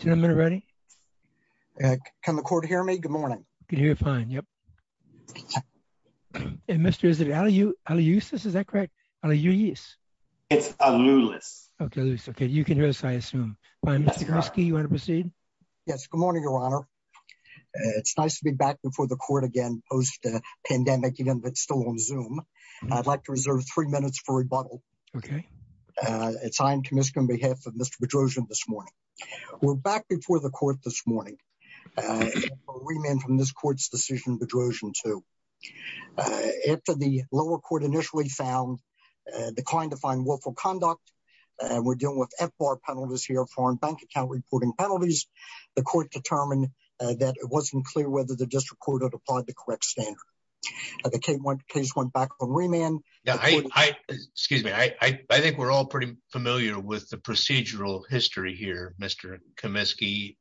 Senator ready? Can the court hear me? Good morning. Can you hear fine? Yep. And Mr. Is it alley you how to use this? Is that correct? How do you use? It's a new list. Okay. Okay. You can hear this. I assume you want to proceed. Yes. Good morning, Your Honor. It's nice to be back before the court again, post pandemic again, but still on zoom. I'd like to reserve three minutes for rebuttal. Okay. It's time to miss him behalf of Mr. This morning. We're back before the court this morning. Remand from this court's decision Bedrosian to after the lower court initially found declined to find willful conduct. And we're dealing with F bar penalties here, foreign bank account reporting penalties. The court determined that it wasn't clear whether the district court had applied the correct standard. The case went case went back on remand. Yeah, I excuse me. I think we're all pretty familiar with the procedural history here, Mr. Comiskey.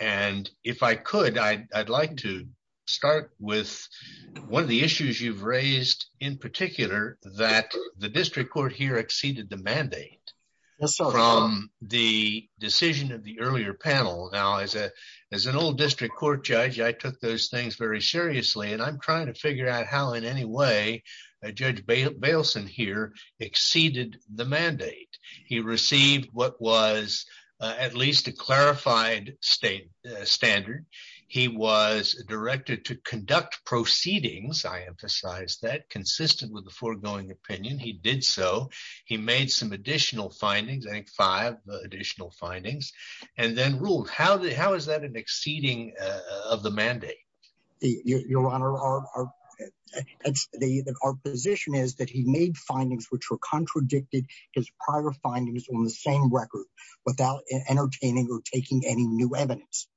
And if I could, I'd like to start with one of the issues you've raised in particular that the district court here exceeded the mandate from the decision of the earlier panel. Now, as a as an old district court judge, I took those things very seriously. And I'm trying to figure out how in any way Judge Bailson here exceeded the mandate. He received what was at least a clarified state standard. He was directed to conduct proceedings. I emphasize that consistent with the foregoing opinion. He did so. He made some additional findings, I think five additional findings and then ruled. How how is that an exceeding of the mandate? The Your Honor, our the our position is that he made findings which were contradicted his prior findings on the same record without entertaining or taking any new evidence.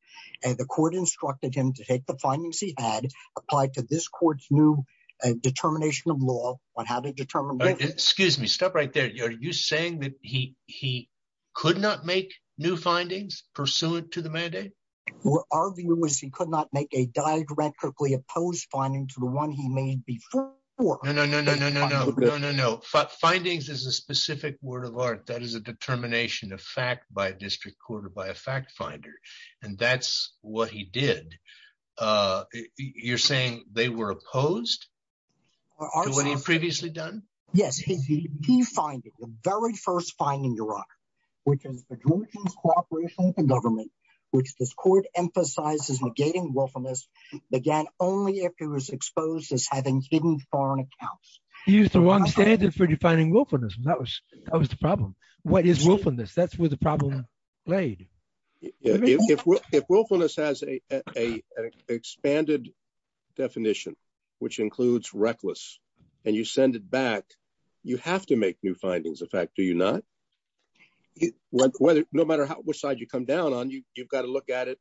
And the court instructed him to take the findings he had applied to this court's new determination of law on how to determine Excuse me, stop right there. Are you saying that he opposed finding to the one he made before? No, no, no, no, no, no, no, no, no findings is a specific word of art. That is a determination of fact by district court or by a fact finder. And that's what he did. You're saying they were opposed to what he previously done? Yes, he defined the very first finding your rock, which is the cooperation with the government, which this court emphasizes negating willfulness began only if it was exposed as having hidden foreign accounts. He used the wrong standard for defining willfulness. That was that was the problem. What is willfulness? That's where the problem played. If willfulness has a expanded definition, which includes reckless, and you send it back, you have to make new you've got to look at it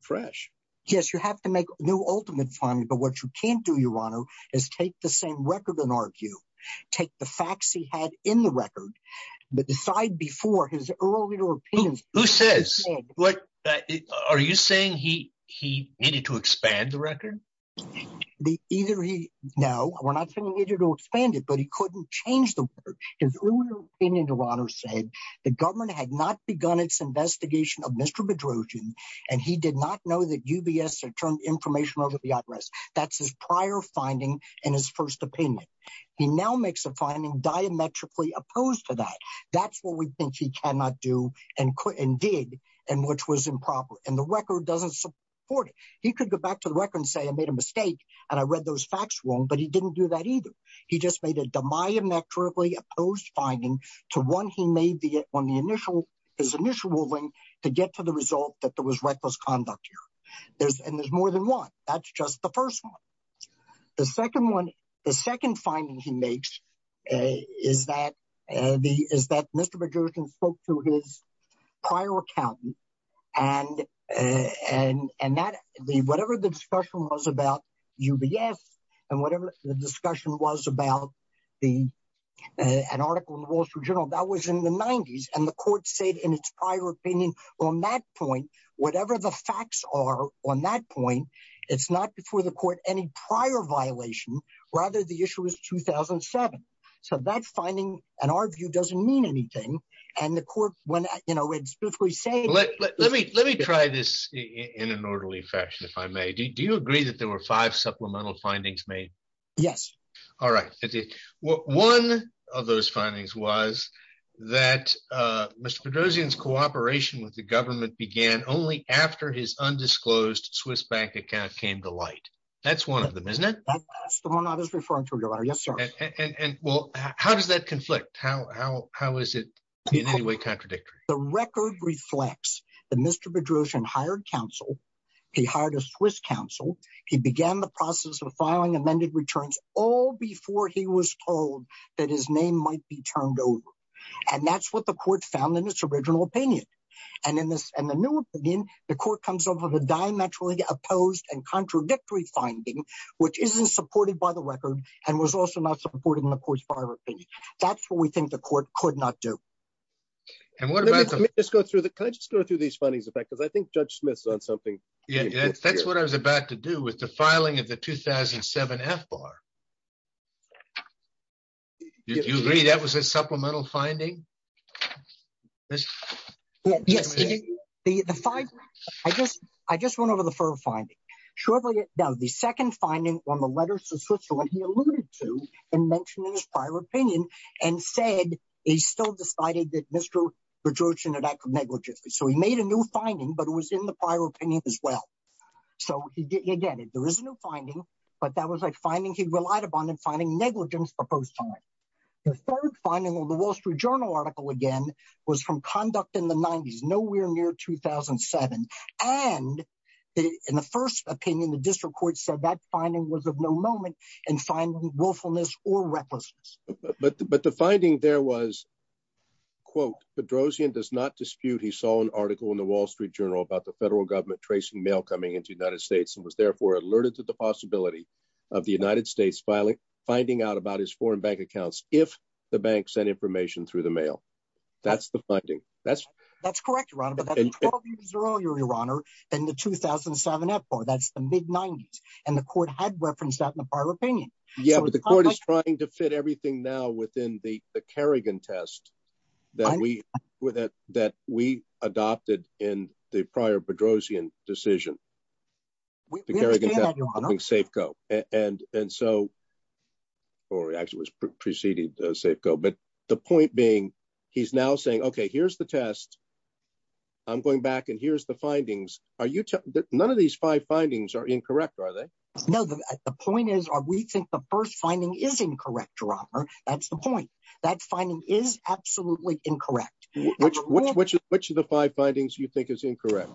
fresh. Yes, you have to make new ultimate finding. But what you can't do, Your Honor, is take the same record and argue, take the facts he had in the record. But decide before his earlier opinions, who says what? Are you saying he he needed to expand the record? The either he? No, we're not sending you to expand it. But he couldn't change the word. Your Honor said the government had not begun its investigation of Mr. Bedrosian, and he did not know that UBS had turned information over the address. That's his prior finding. And his first opinion, he now makes a finding diametrically opposed to that. That's what we think he cannot do and could indeed, and which was improper. And the record doesn't support it. He could go back to the record and say I made a mistake. And I read those facts wrong. But he to one he made the on the initial his initial willing to get to the result that there was reckless conduct here. There's and there's more than one. That's just the first one. The second one, the second finding he makes is that the is that Mr. Bedrosian spoke to his prior account. And, and, and that the whatever the discussion was about UBS, and whatever the journal that was in the 90s, and the court said in its prior opinion, on that point, whatever the facts are on that point, it's not before the court any prior violation, rather, the issue was 2007. So that finding, in our view, doesn't mean anything. And the court when you know, it's before he say, let me let me try this in an orderly fashion, if I may, do you agree that there were five supplemental findings made? Yes. All right. One of those findings was that Mr. Bedrosian, his cooperation with the government began only after his undisclosed Swiss bank account came to light. That's one of them, isn't it? That's the one I was referring to. Yes, sir. And well, how does that conflict? How? How? How is it in any way contradictory? The record reflects that Mr. Bedrosian hired counsel, he hired a Swiss counsel, he began the process of filing amended returns all before he was told that his name might be turned over. And that's what the court found in its original opinion. And in this, and the new opinion, the court comes up with a diametrically opposed and contradictory finding, which isn't supported by the record, and was also not supported in the court's prior opinion. That's what we think the court could not do. And what about just go through the kind of just go through these findings, in fact, because I think Judge Smith's on something. Yeah, that's what I was about to do with the filing of the 2007. You agree that was a supplemental finding? Yes, the the five. I just I just went over the firm finding shortly. Now the second finding on the letters to Switzerland, he alluded to and mentioned in his prior opinion, and said, he still decided that Mr. Bedrosian had acted negligently. So he made a new finding, but it was in the prior opinion as well. So again, there is no finding. But that was like he relied upon in finding negligence for both sides. The third finding on the Wall Street Journal article again, was from conduct in the 90s, nowhere near 2007. And in the first opinion, the district court said that finding was of no moment in finding willfulness or recklessness. But the finding there was, quote, Bedrosian does not dispute he saw an article in the Wall Street Journal about the federal government tracing mail coming into the United States and therefore alerted to the possibility of the United States filing finding out about his foreign bank accounts if the bank sent information through the mail. That's the finding. That's, that's correct, your honor. And the 2007 report, that's the mid 90s. And the court had referenced that in the prior opinion. Yeah, but the court is trying to fit everything now within the Kerrigan test that we were that that we adopted in the prior Bedrosian decision. Safeco. And, and so, or actually was preceded Safeco. But the point being, he's now saying, okay, here's the test. I'm going back and here's the findings. Are you that none of these five findings are incorrect, are they? No, the point is, are we think the first finding is incorrect, your honor. That's the point. That finding is absolutely incorrect. Which, which, which, which of the five findings you think is incorrect?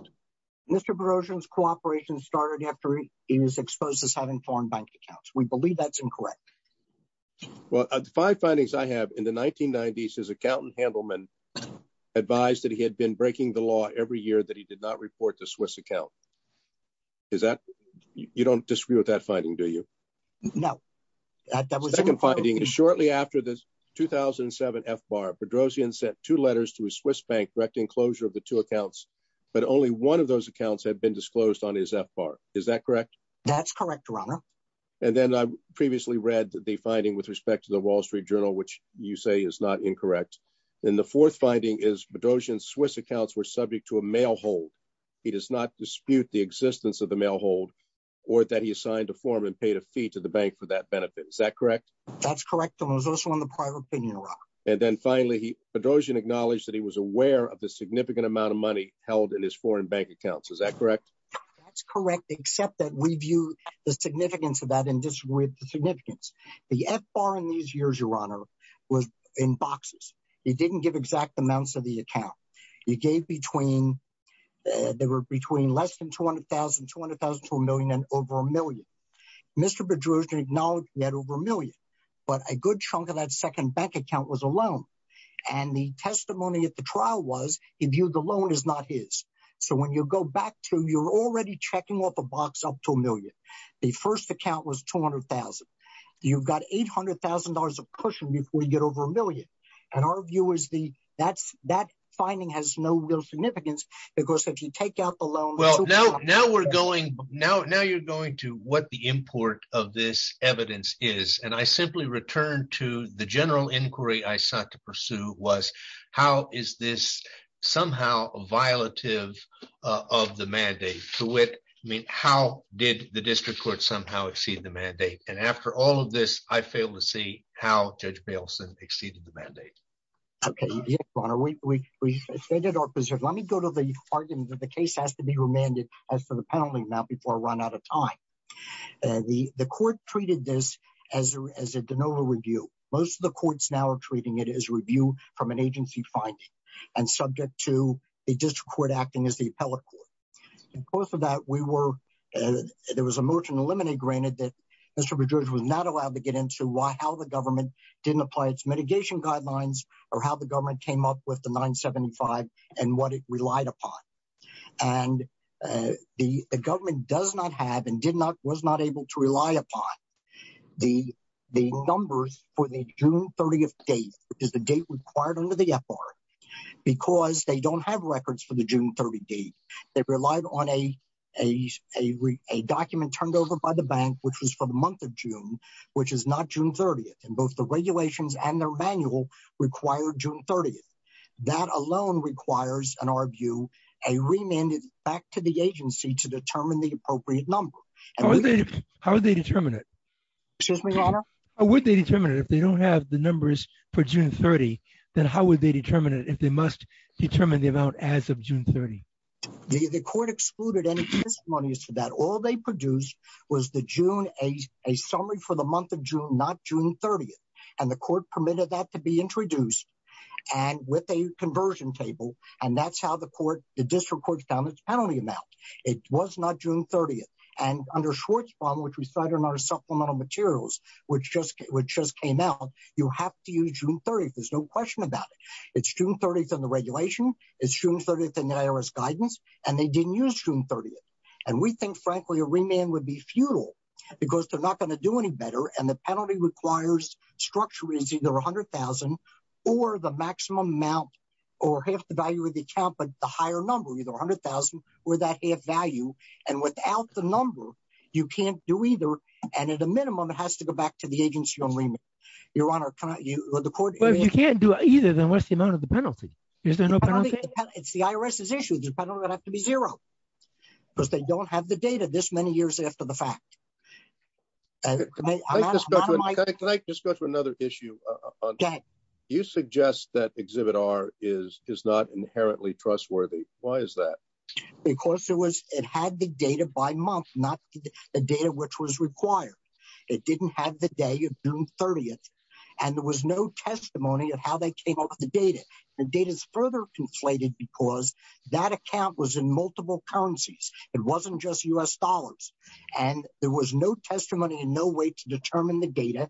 Mr. Bedrosian's cooperation started after he was exposed as having foreign bank accounts. We believe that's incorrect. Well, five findings I have in the 1990s, his accountant Handelman advised that he had been breaking the law every year that he did not report the Swiss account. Is that you don't disagree with that finding? Do you? No. That was the second finding is shortly after this 2007 F bar Bedrosian sent two letters to a Swiss bank directing closure of the two accounts. But only one of those accounts had been disclosed on his F bar. Is that correct? That's correct, your honor. And then I previously read the finding with respect to the Wall Street Journal, which you say is not incorrect. And the fourth finding is Bedrosian Swiss accounts were subject to a mail hold. He does not dispute the existence of the mail hold, or that he assigned a form and paid a fee to the bank for that benefit. Is that correct? That's correct. And it was also on the prior opinion. And then finally, he Bedrosian acknowledged that he was aware of the significant amount of money held in his foreign bank accounts. Is that correct? That's correct, except that we view the significance of that and disagree with the significance. The F bar in these years, your honor, was in boxes, you didn't give exact amounts of the account you gave between there were between less than 200,000 200,000 to a million and over a million. Mr. Bedrosian acknowledged that over a million, but a good chunk of that second bank account was alone. And the testimony at the trial was if you the loan is not his. So when you go back to you're already checking off a box up to a million. The first account was 200,000. You've got $800,000 of cushion before you get over a million. And our view is the that's that finding has no real significance. Because if you take out the loan, well, no, now we're going now now you're going to what the import of this evidence is. And I simply returned to the general inquiry I sought to pursue was, how is this somehow violative of the mandate to it? I mean, how did the district court somehow exceed the mandate? And after all of this, I failed to see how Judge Baleson exceeded the mandate. Okay, your honor, we did our preserve. Let me go to the argument that the case has to be remanded as for the penalty now before I run out of time. The court treated this as as a de novo review. Most of the courts now are treating it as review from an agency finding and subject to a district court acting as the appellate court. And both of that we were there was a motion to that Mr. Boudreaux was not allowed to get into why how the government didn't apply its mitigation guidelines or how the government came up with the 975 and what it relied upon. And the government does not have and did not was not able to rely upon the the numbers for the June 30th date, which is the date required under the FR, because they don't have records for the June 30 date. They relied on a, a, a, a document turned over by the bank, which was for the month of June, which is not June 30. And both the regulations and their manual required June 30. That alone requires an argue a remanded back to the agency to determine the appropriate number. How would they determine it? Excuse me, your honor? How would they determine if they don't have the numbers for June 30? Then how would they determine it if they must determine the amount as of June 30? The court excluded any testimonies for that. All they produced was the June a, a summary for the month of June, not June 30th. And the court permitted that to be introduced and with a conversion table. And that's how the court, the district courts found its penalty amount. It was not June 30th and under Schwartzbaum, which we cite in our supplemental materials, which just, which just came out, you have to use June 30th. There's no question about it. It's June 30th on the regulation. It's June 30th in the IRS guidance, and they didn't use June 30th. And we think frankly, a remand would be futile because they're not going to do any better. And the penalty requires structure is either a hundred thousand or the maximum amount or half the value of the account, but the higher number, either a hundred thousand or that half value. And without the number, you can't do either. And at a minimum, it has to go back to the agency only. Your honor, the court, you can't do either. Then what's the amount of the penalty? Is there no penalty? It's the IRS's issue. The penalty would have to be zero because they don't have the data this many years after the fact. Can I just go to another issue? You suggest that exhibit R is, is not inherently trustworthy. Why is that? Because it was, it had the data by month, not the data, which was required. It didn't have the day of June 30th, and there was no testimony of how they came up with the data. The data is further conflated because that account was in multiple currencies. It wasn't just U.S. dollars. And there was no testimony and no way to determine the data,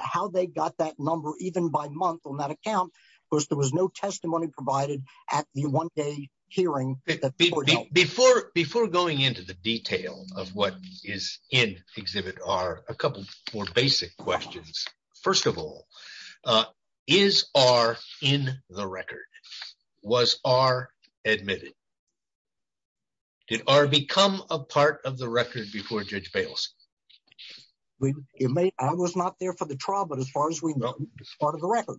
how they got that number, even by month on that account, because there was no testimony provided at the one day hearing. Before, before going into the detail of what is in exhibit R, a couple more basic questions. First of all, is R in the record? Was R admitted? Did R become a part of the record before Judge Bales? I was not there for the trial, but as far as we know, it's part of the record.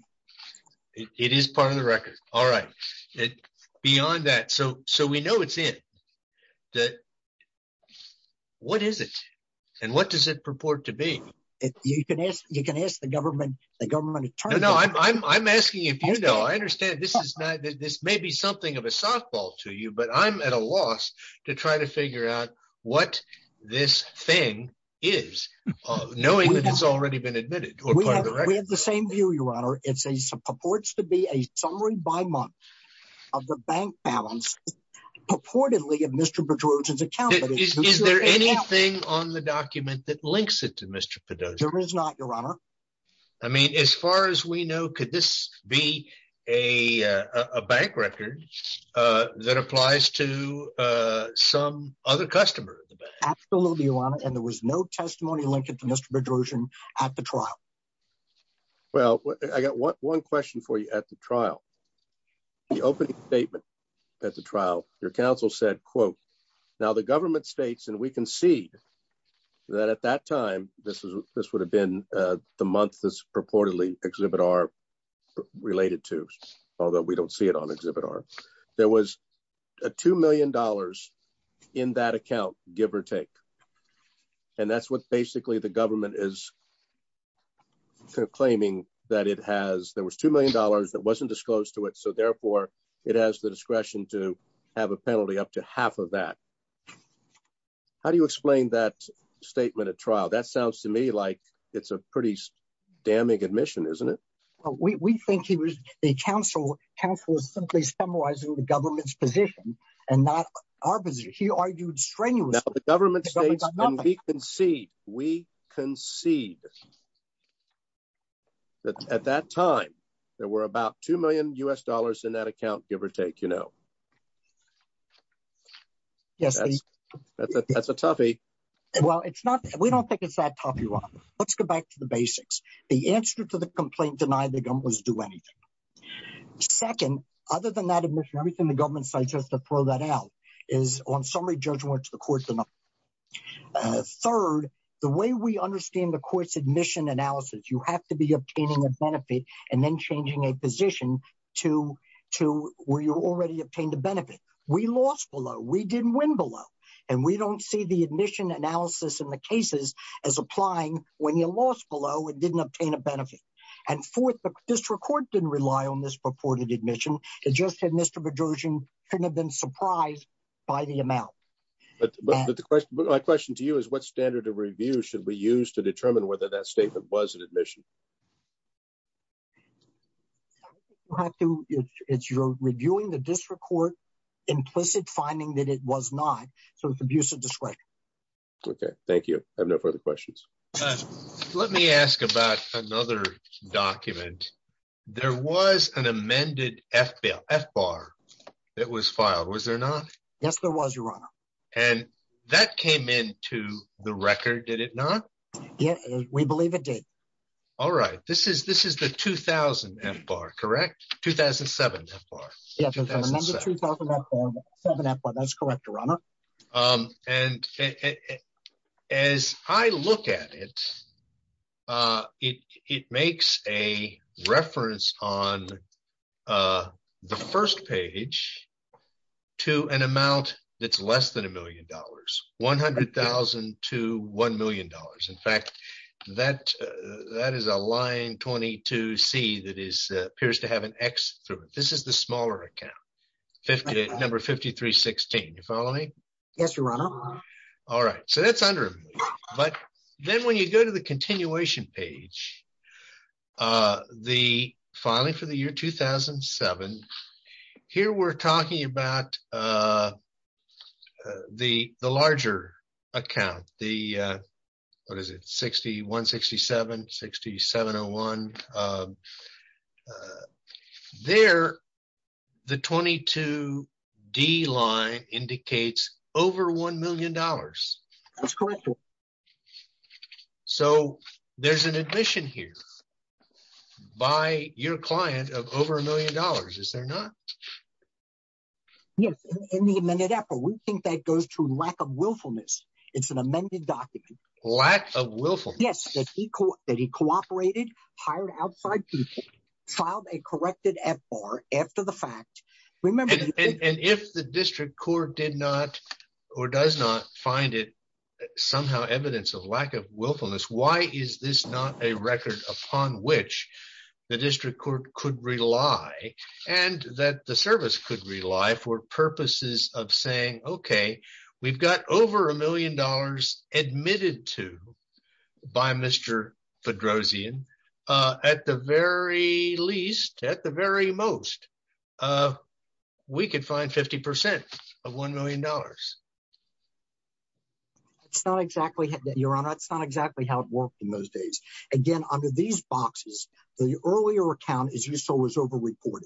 It is part of the record. All right. Beyond that, so, so we know it's in. That, what is it? And what does it purport to be? You can ask, you can ask the government, the government attorney. No, no, I'm, I'm, I'm asking if you know, I understand this is not, this may be something of a softball to you, but I'm at a loss to try to figure out what this thing is, knowing that it's already been admitted or part of the record. We have the same view, Your Honor. It's a, it purports to be a summary by month of the bank balance purportedly of Mr. Bedrosian's account. Is there anything on the document that links it to Mr. Bedrosian? There is not, Your Honor. I mean, as far as we know, could this be a bank record that applies to some other customer? Absolutely, Your Honor. And there was no testimony linked to Mr. Bedrosian at the trial. Well, I got one question for you at the trial, the opening statement at the trial, your counsel said, quote, now the government states, and we concede that at that time, this is, this would have been the month that's purportedly Exhibit R related to, although we don't see it on Exhibit R, there was a $2 million in that account, give or take. And that's what basically the government is claiming that it has, there was $2 million that wasn't disclosed to it. So therefore, it has the discretion to have a penalty up to half of that. How do you explain that statement at trial? That sounds to me like it's a pretty damning admission, isn't it? Well, we think he was a counsel, counsel was simply summarizing the government's position and not our position. He argued strenuously. Now the government states, and we concede, we concede that at that time, there were about $2 million in that account, give or take, you know. Yes, that's a toughie. Well, it's not, we don't think it's that tough, Your Honor. Let's go back to the basics. The answer to the complaint denied the government was do anything. Second, other than that admission, everything the government suggests to throw that out is on summary judgment to the court. Third, the way we understand the court's admission analysis, you have to be obtaining a benefit and then changing a position to where you already obtained a benefit. We lost below, we didn't win below, and we don't see the admission analysis in the cases as applying when you lost below and didn't obtain a benefit. And fourth, the district court didn't rely on this purported admission. It just said Mr. Bedrosian shouldn't have been surprised by the amount. But my question to you is what standard of review should we use to determine whether that statement was an admission? It's your reviewing the district court implicit finding that it was not, so it's abusive discretion. Okay, thank you. I have no further questions. Let me ask about another document. There was an amended F-bar that was filed, was there not? Yes, there was, Your Honor. And that came into the record, did it not? Yeah, we believe it did. All right, this is the 2000 F-bar, correct? 2007 F-bar. And as I look at it, it makes a reference on the first page to an amount that's less than a million dollars, $100,000 to $1 million. In fact, that is a line 22C that appears to have an X through it. This is the smaller account, number 5316, you follow me? Yes, Your Honor. All right, so that's under review. But then when you go to the continuation page, the filing for the year 2007, here we're talking about the larger account, the, what is it, 6167, 6701. There, the 22D line indicates over $1 million. That's correct, Your Honor. So there's an admission here by your client of over a million dollars, is there not? Yes, in the amended F-bar. We think that goes to lack of willfulness. It's an amended document. Lack of willfulness? Yes, that he cooperated, hired outside people, filed a corrected F-bar after the fact. And if the district court did not or does not find it somehow evidence of lack of willfulness, why is this not a record upon which the district court could rely and that the service could rely for purposes of saying, okay, we've got over a million dollars admitted to by Mr. Fedrosian. At the very least, at the very most, we could find 50% of $1 million. It's not exactly, Your Honor, it's not exactly how it worked in those days. Again, under these boxes, the earlier account, as you saw, was overreported.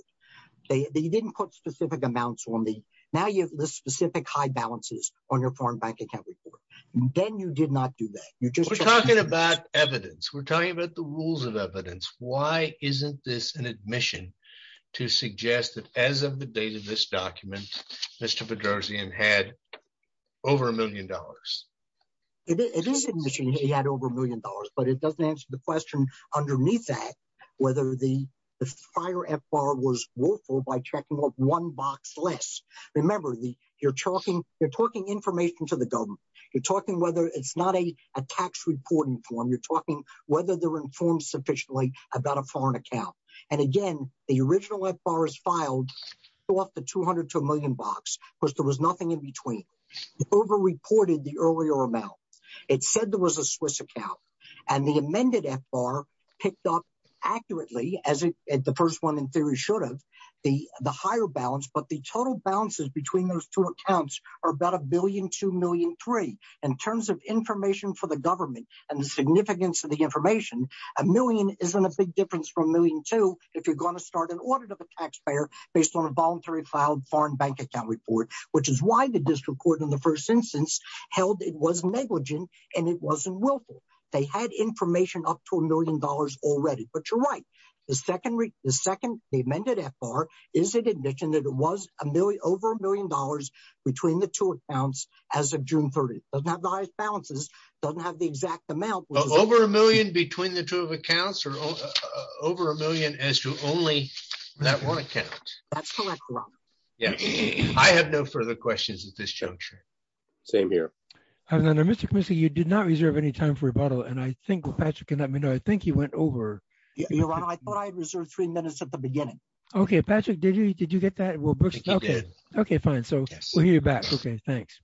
They didn't put specific amounts on the, now you have the specific high balances on your foreign bank account report. Then you did not do that. You're just talking about evidence. We're talking about the rules of evidence. Why isn't this an admission to suggest that as of the date of this document, Mr. Fedrosian had over a million dollars? It is an admission he had over a million dollars, but it doesn't answer the question underneath that, whether the prior F-bar was willful by checking off one box less. Remember, you're talking information to the government. You're talking whether it's not a tax reporting form. You're talking whether they're informed sufficiently about a foreign account. And again, the original F-bar is filed off the $200 to $1 million box, because there was nothing in between. It overreported the earlier amount. It said there was a Swiss account. And the amended F-bar picked up accurately, as the first one in theory should have, the higher balance, but the total balances between those two accounts are about a billion, two million, three. In terms of information for the government and the significance of the information, a million isn't a big difference from a million, two, if you're going to start an audit of a taxpayer based on a voluntary filed foreign bank account report, which is why the district court in the first instance held it was negligent and it wasn't willful. They had information up to a million dollars already. But you're right. The second the amended F-bar is an admission that it was a million, over a million dollars between the two accounts as of June 30th. Doesn't have the highest balances. Doesn't have the exact amount. Over a million between the two accounts or over a million as to only that one account? That's correct, Your Honor. Yes. I have no further questions at this juncture. Same here. Mr. Commissioner, you did not reserve any time for rebuttal. And I think Patrick can let me know. I think he went over. Your Honor, I thought I had reserved three minutes at the beginning. Okay, Patrick, did you get that? Okay, fine. So we'll hear you back. Okay, thanks.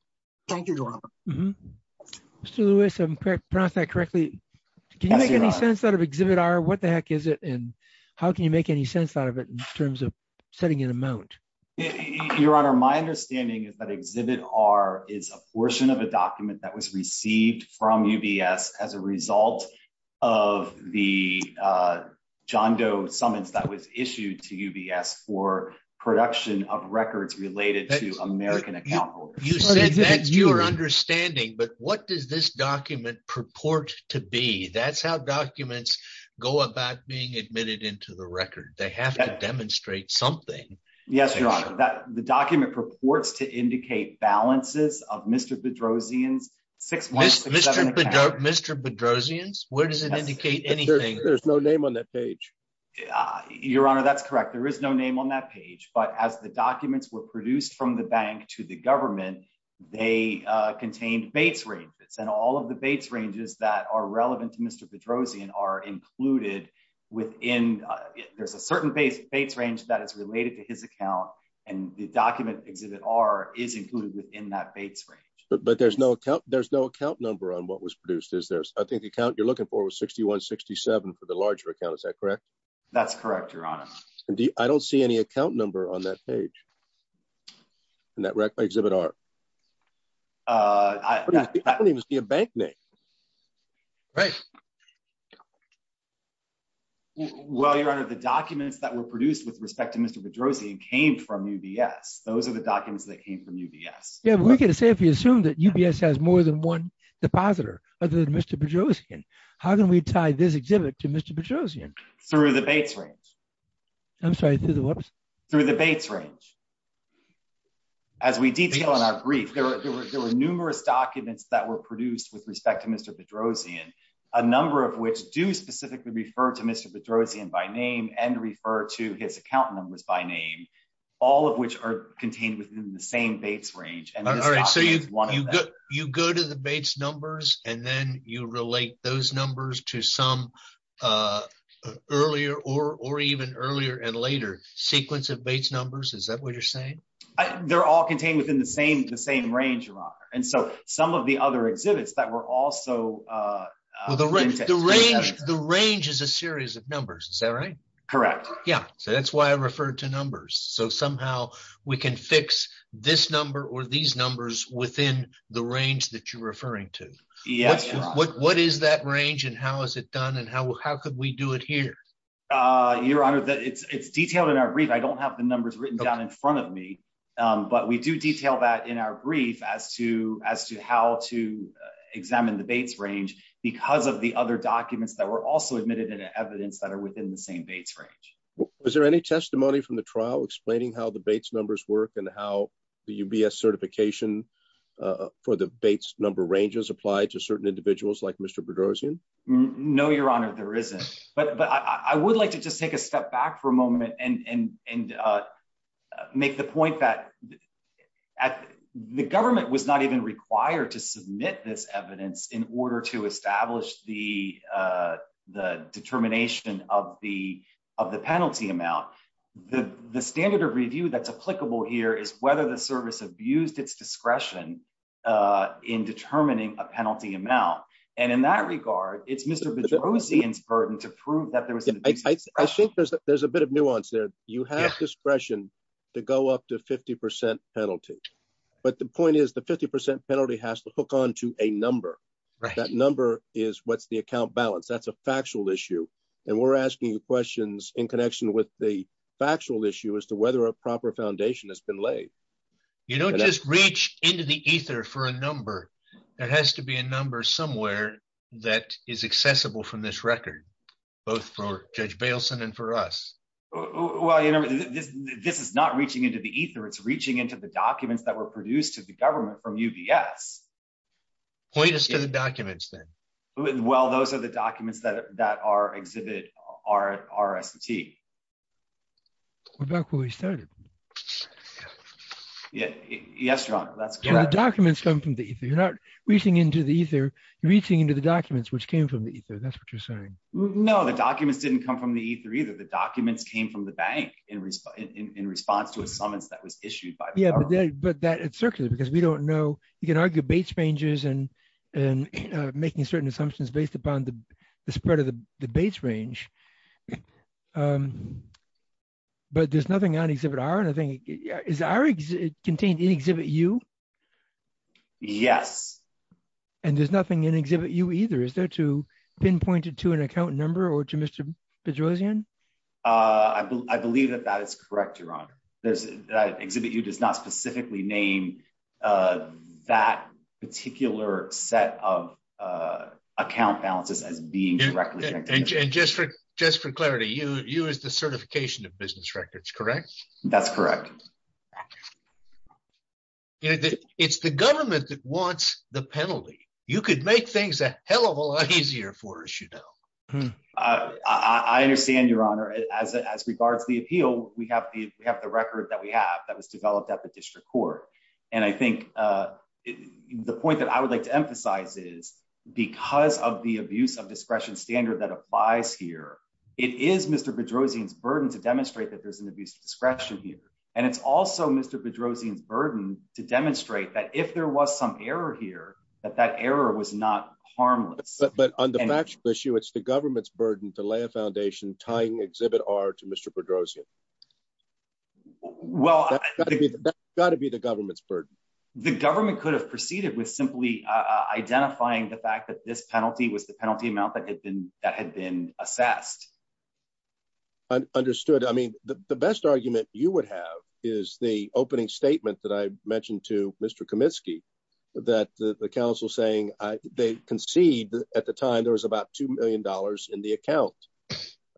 Thank you, Your Honor. Mr. Lewis, if I pronounced that correctly, can you make any sense out of Exhibit R? What the heck is it? And how can you make any sense out of it in terms of setting an amount? Your Honor, my understanding is that Exhibit R is a portion of a document that was received from UBS as a result of the John Doe summons that was issued to UBS for production of records related to American account holders. You said that's your understanding, but what does this document purport to be? That's how documents go about being admitted into the record. They have to demonstrate something. Yes, Your Honor. The document purports to indicate balances of Mr. Bedrosian's 6167 account. Mr. Bedrosian's? Where does it indicate anything? There's no name on that page. Your Honor, that's correct. There is no name on that page. But as the documents were produced from the bank to the government, they contained Bates ranges. And all of the Bates ranges that are relevant to Mr. Bedrosian are included within... There's a certain Bates range that is related to his account. And the document Exhibit R is included within that Bates range. But there's no account number on what was produced, is there? I think the account you're looking for was 6167 for the larger account. Is that correct? That's correct, Your Honor. I don't see any account number on that page. In that Exhibit R. I don't even see a bank name. Right. Well, Your Honor, the documents that were produced with respect to Mr. Bedrosian came from UBS. Those are the documents that came from UBS. Yeah, but we're going to say if we assume that UBS has more than one depositor other than Mr. Bedrosian, how can we tie this exhibit to Mr. Bedrosian? Through the Bates range. I'm sorry, through the what? Through the Bates range. As we detail in our brief, there were numerous documents that were produced with respect to Mr. Bedrosian, a number of which do specifically refer to Mr. Bedrosian by name and refer to his account numbers by name, all of which are contained within the same Bates range. You go to the Bates numbers and then you relate those numbers to some earlier or even earlier and later sequence of Bates numbers. Is that what you're saying? They're all contained within the same range, Your Honor. And so some of the other exhibits that were also... The range is a series of numbers. Is that right? Correct. Yeah, so that's why I referred to numbers. So somehow we can fix this number or these numbers within the range that you're referring to. What is that range and how is it done? And how could we do it here? Your Honor, it's detailed in our brief. I don't have the numbers written down in front of me, but we do detail that in our brief as to how to examine the Bates range because of the other documents that were also admitted in evidence that are within the same Bates range. Was there any testimony from the trial explaining how the Bates numbers work and how the UBS certification for the Bates number ranges apply to certain individuals like Mr. Bedrosian? No, Your Honor, there isn't. But I would like to just take a step back for a moment and make the point that the government was not even required to submit this evidence in order to establish the determination of the penalty amount. The standard of review that's applicable here is whether the service abused its discretion in determining a penalty amount. And in that regard, it's Mr. Bedrosian's burden to prove that there was an abuse. I think there's a bit of nuance there. You have discretion to go up to 50% penalty. But the point is the 50% penalty has to hook onto a number. That number is what's the account balance. That's a factual issue. And we're asking you questions in connection with the factual issue as to whether a proper foundation has been laid. You don't just reach into the ether for a number. There has to be a number somewhere that is accessible from this record, both for Judge Bailson and for us. Well, this is not reaching into the ether. It's reaching into the documents that were produced to the government from UBS. Point us to the documents then. Well, those are the documents that are exhibited at RST. We're back where we started. Yes, John, that's correct. The documents come from the ether. You're not reaching into the ether. You're reaching into the documents which came from the ether. That's what you're saying. No, the documents didn't come from the ether either. The documents came from the bank in response to a summons that was issued by the government. But that it's circular because we don't know. You can argue Bates ranges and making certain assumptions based upon the spread of the Bates range. But there's nothing on Exhibit R. Is R contained in Exhibit U? Yes. And there's nothing in Exhibit U either. Is there to pinpoint it to an account number or to Mr. Bedrosian? I believe that that is correct, Your Honor. There's Exhibit U does not specifically name that particular set of account balances as being directly connected. And just for clarity, you used the certification of business records, correct? That's correct. It's the government that wants the penalty. You could make things a hell of a lot easier for us, you know. I understand, Your Honor. As regards to the appeal, we have the record that we have that was developed at the district court. And I think the point that I would like to emphasize is because of the abuse of discretion standard that applies here, it is Mr. Bedrosian's burden to demonstrate that there's an abuse of discretion here. And it's also Mr. Bedrosian's burden to demonstrate that if there was some error here, that that error was not harmless. But on the factual issue, it's the government's burden to lay a foundation tying Exhibit R to Mr. Bedrosian. Well, that's got to be the government's burden. The government could have proceeded with simply identifying the fact that this penalty was the penalty amount that had been assessed. Understood. I mean, the best argument you would have is the opening statement that I mentioned to Mr. Kaminsky that the counsel saying they concede at the time there was about two million dollars in the account.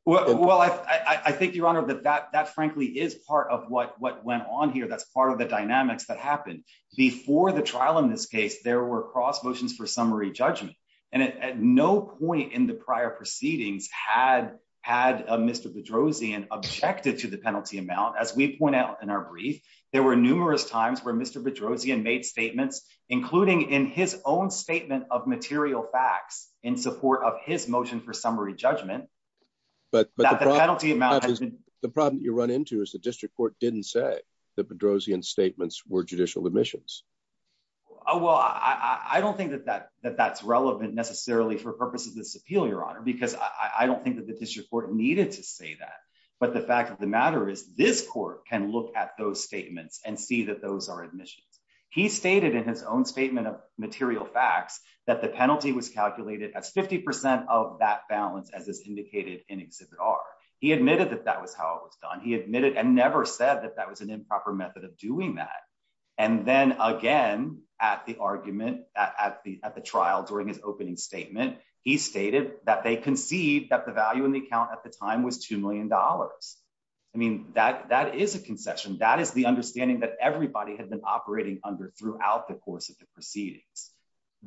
Well, I think, Your Honor, that that frankly is part of what went on here. That's part of the dynamics that happened before the trial in this case. There were cross motions for summary judgment and at no point in the prior proceedings had had Mr. Bedrosian objected to the penalty amount. As we point out in our brief, there were numerous times where Mr. Bedrosian made statements, including in his own statement of material facts in support of his motion for summary judgment. But the penalty amount the problem you run into is the district court didn't say the Bedrosian statements were judicial omissions. Well, I don't think that that that that's relevant necessarily for purposes of this appeal, Your Honor, because I don't think that the district court needed to say that. But the fact of the matter is this court can look at those statements and see that those are admissions. He stated in his own statement of material facts that the penalty was calculated as 50 percent of that balance as is indicated in Exhibit R. He admitted that that was how it was done. He admitted and never said that that was an improper method of doing that. And then again, at the argument, at the at the trial during his opening statement, he stated that they concede that the value in the account at the time was two million dollars. I mean, that that is a concession. That is the understanding that everybody had been operating under throughout the course of the proceedings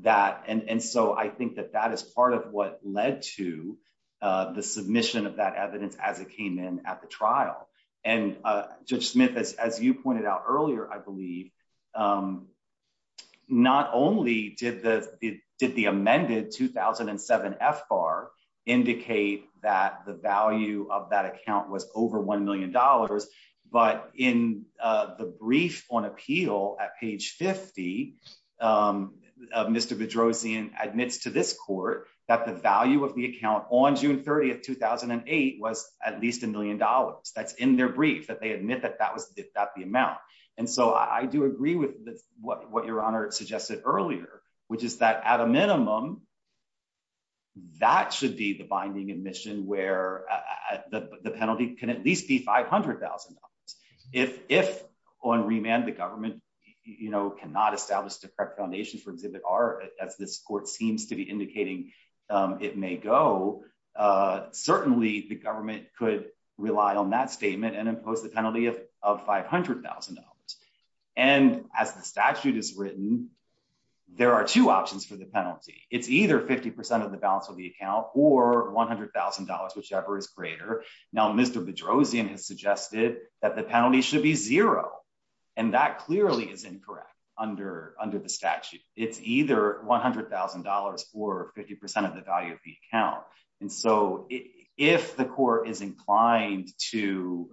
that. And so I think that that is part of what led to the submission of that evidence as it came in at the trial. And Judge Smith, as you pointed out earlier, I believe not only did the did the amended 2007 FBAR indicate that the value of that account was over one million dollars, but in the brief on appeal at page 50 of Mr. Bedrosian admits to this court that the value of the account on June 30th, 2008, was at least a million dollars. That's in their brief that they admit that that was that the amount. And so I do agree with what your honor suggested earlier, which is that at a minimum. That should be the binding admission where the penalty can at least be five hundred thousand dollars. If if on remand, the government cannot establish the correct foundation for exhibit R as this court seems to be indicating it may go, certainly the government could rely on that statement and impose the penalty of five hundred thousand dollars. And as the statute is written, there are two options for the penalty. It's either 50 percent of the balance of the account or one hundred thousand dollars, whichever is greater. Now, Mr. Bedrosian has suggested that the penalty should be zero. And that clearly is incorrect under under the statute. It's either one hundred thousand dollars for 50 percent of the value of the account. And so if the court is inclined to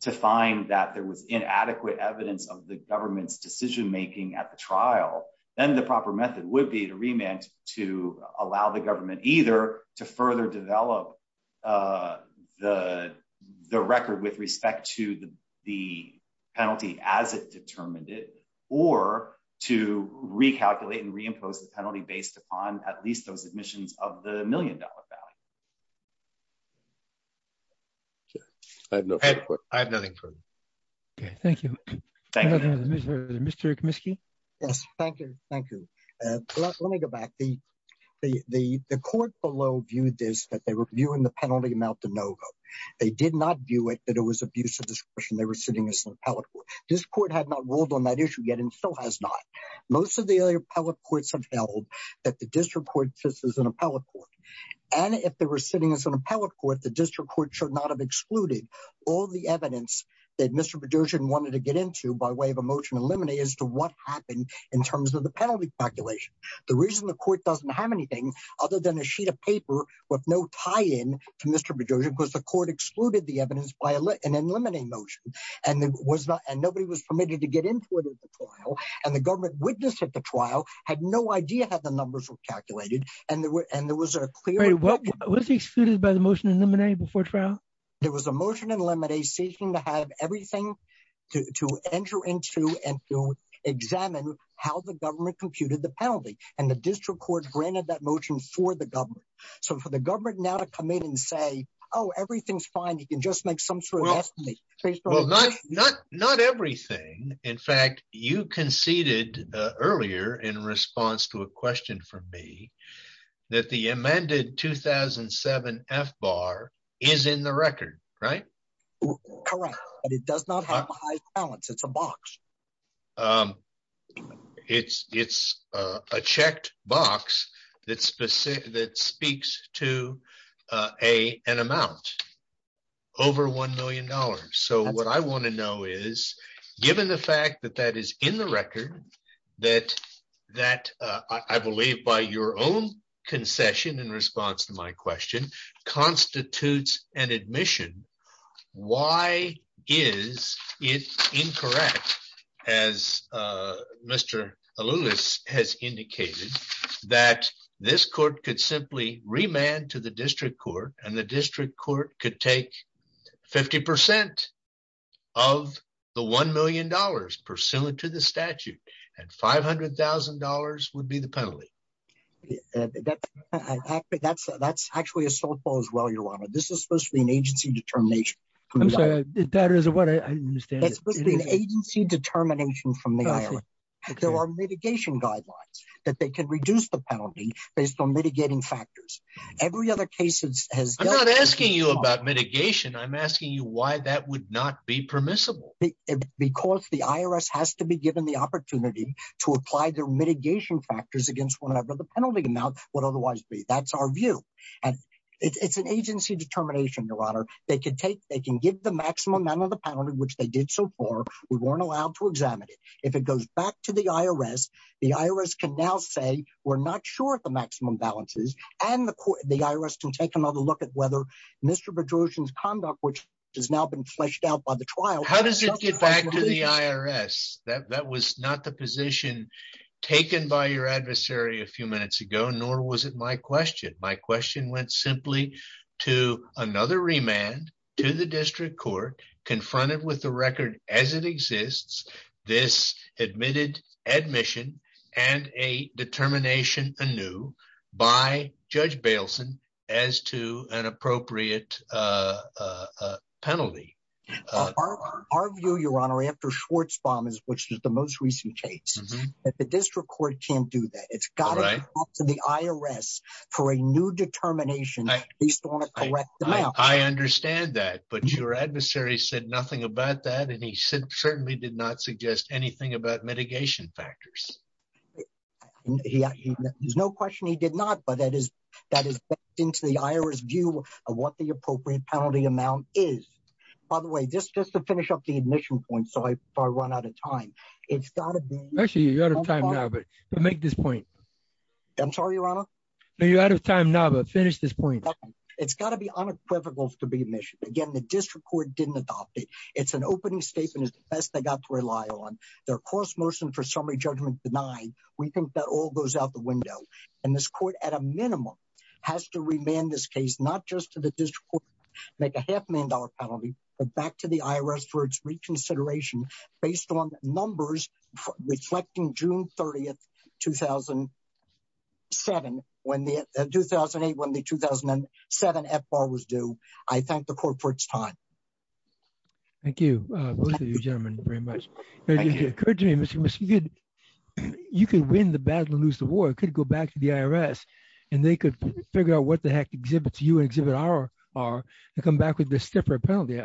to find that there was inadequate evidence of the government's decision making at the trial, then the proper method would be to remand to allow the government either to further develop the the record with respect to the penalty as it determined it or to recalculate and reimpose the penalty based upon at least those admissions of the million dollar value. I have nothing. OK, thank you. Mr. Comiskey. Yes, thank you. Thank you. Let me go back. The court below viewed this that they were viewing the penalty amount to no go. They did not view it that it was abuse of discretion. They were sitting as an appellate. This court had not ruled on that issue yet and still has not. Most of the other appellate courts have held that the district court just as an appellate court. And if they were sitting as an appellate court, the district court should not have excluded all the evidence that Mr. Bedrosian wanted to get into by way of a motion to eliminate as to what happened in terms of the penalty calculation. The reason the court doesn't have anything other than a sheet of paper with no tie in to Mr. Bedrosian because the court excluded the evidence by an eliminating motion. And there was not and nobody was permitted to get into it at the trial. And the government witness at the trial had no idea how the numbers were calculated. And there was a clear what was excluded by the motion before trial. There was a motion in limine seeking to have everything to enter into and to examine how the government computed the penalty. And the district court granted that motion for the government. So for the government now to come in and say, oh, everything's fine. You can just make some sort of estimate. Not everything. In fact, you conceded earlier in response to a question from me that the amended 2007 F-bar is in the record, right? Correct. And it does not have a high balance. It's a box. It's a checked box that speaks to an amount over $1 million. So what I want to know is given the fact that that is in the record, that I believe by your own concession in response to my question constitutes an admission. Why is it incorrect? As Mr. Alouis has indicated that this court could simply remand to the district court and the district court could take 50% of the $1 million pursuant to the statute and $500,000 would be the penalty. That's actually a softball as well, Your Honor. This is supposed to be an agency determination. I'm sorry. That is what I understand. That's supposed to be an agency determination from the IRS. There are mitigation guidelines that they can reduce the penalty based on mitigating factors. Every other case has- I'm not asking you about mitigation. I'm asking you why that would not be permissible. Because the IRS has to be given the opportunity to apply their mitigation factors whenever the penalty amount would otherwise be. That's our view. And it's an agency determination, Your Honor. They can give the maximum amount of the penalty, which they did so far. We weren't allowed to examine it. If it goes back to the IRS, the IRS can now say we're not sure if the maximum balance is and the IRS can take another look at whether Mr. Bedrosian's conduct, which has now been fleshed out by the trial- How does it get back to the IRS? That was not the position taken by your adversary a few minutes ago, nor was it my question. My question went simply to another remand to the district court confronted with the record as it exists, this admitted admission and a determination anew by Judge Bailson as to an appropriate penalty. Our view, Your Honor, after Schwartzbaum, which is the most recent case, the district court can't do that. It's got to go to the IRS for a new determination. I understand that, but your adversary said nothing about that and he certainly did not suggest anything about mitigation factors. There's no question he did not, but that is that is into the IRS view of what the appropriate penalty amount is. By the way, this just to finish up the admission point, so I run out of time. It's got to be- Make this point. I'm sorry, Your Honor. No, you're out of time now, but finish this point. It's got to be unequivocal to be admission. Again, the district court didn't adopt it. It's an opening statement is the best they got to rely on. Their course motion for summary judgment denied. We think that all goes out the window and this court at a minimum has to remand this case, not just to the district court, make a half million dollar penalty, but back to the IRS for its reconsideration based on numbers reflecting June 30th, 2007, when the 2008, when the 2007 FBAR was due. I thank the court for its time. Thank you, both of you gentlemen very much. You could win the battle, lose the war, could go back to the IRS and they could figure out what the heck exhibits you and exhibit our are and come back with a stiffer penalty.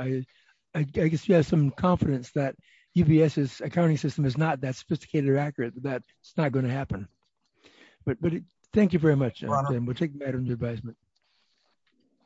I guess you have some confidence that UBS's accounting system is not that sophisticated or accurate that it's not going to happen. But thank you very much. And we'll take that under advisement.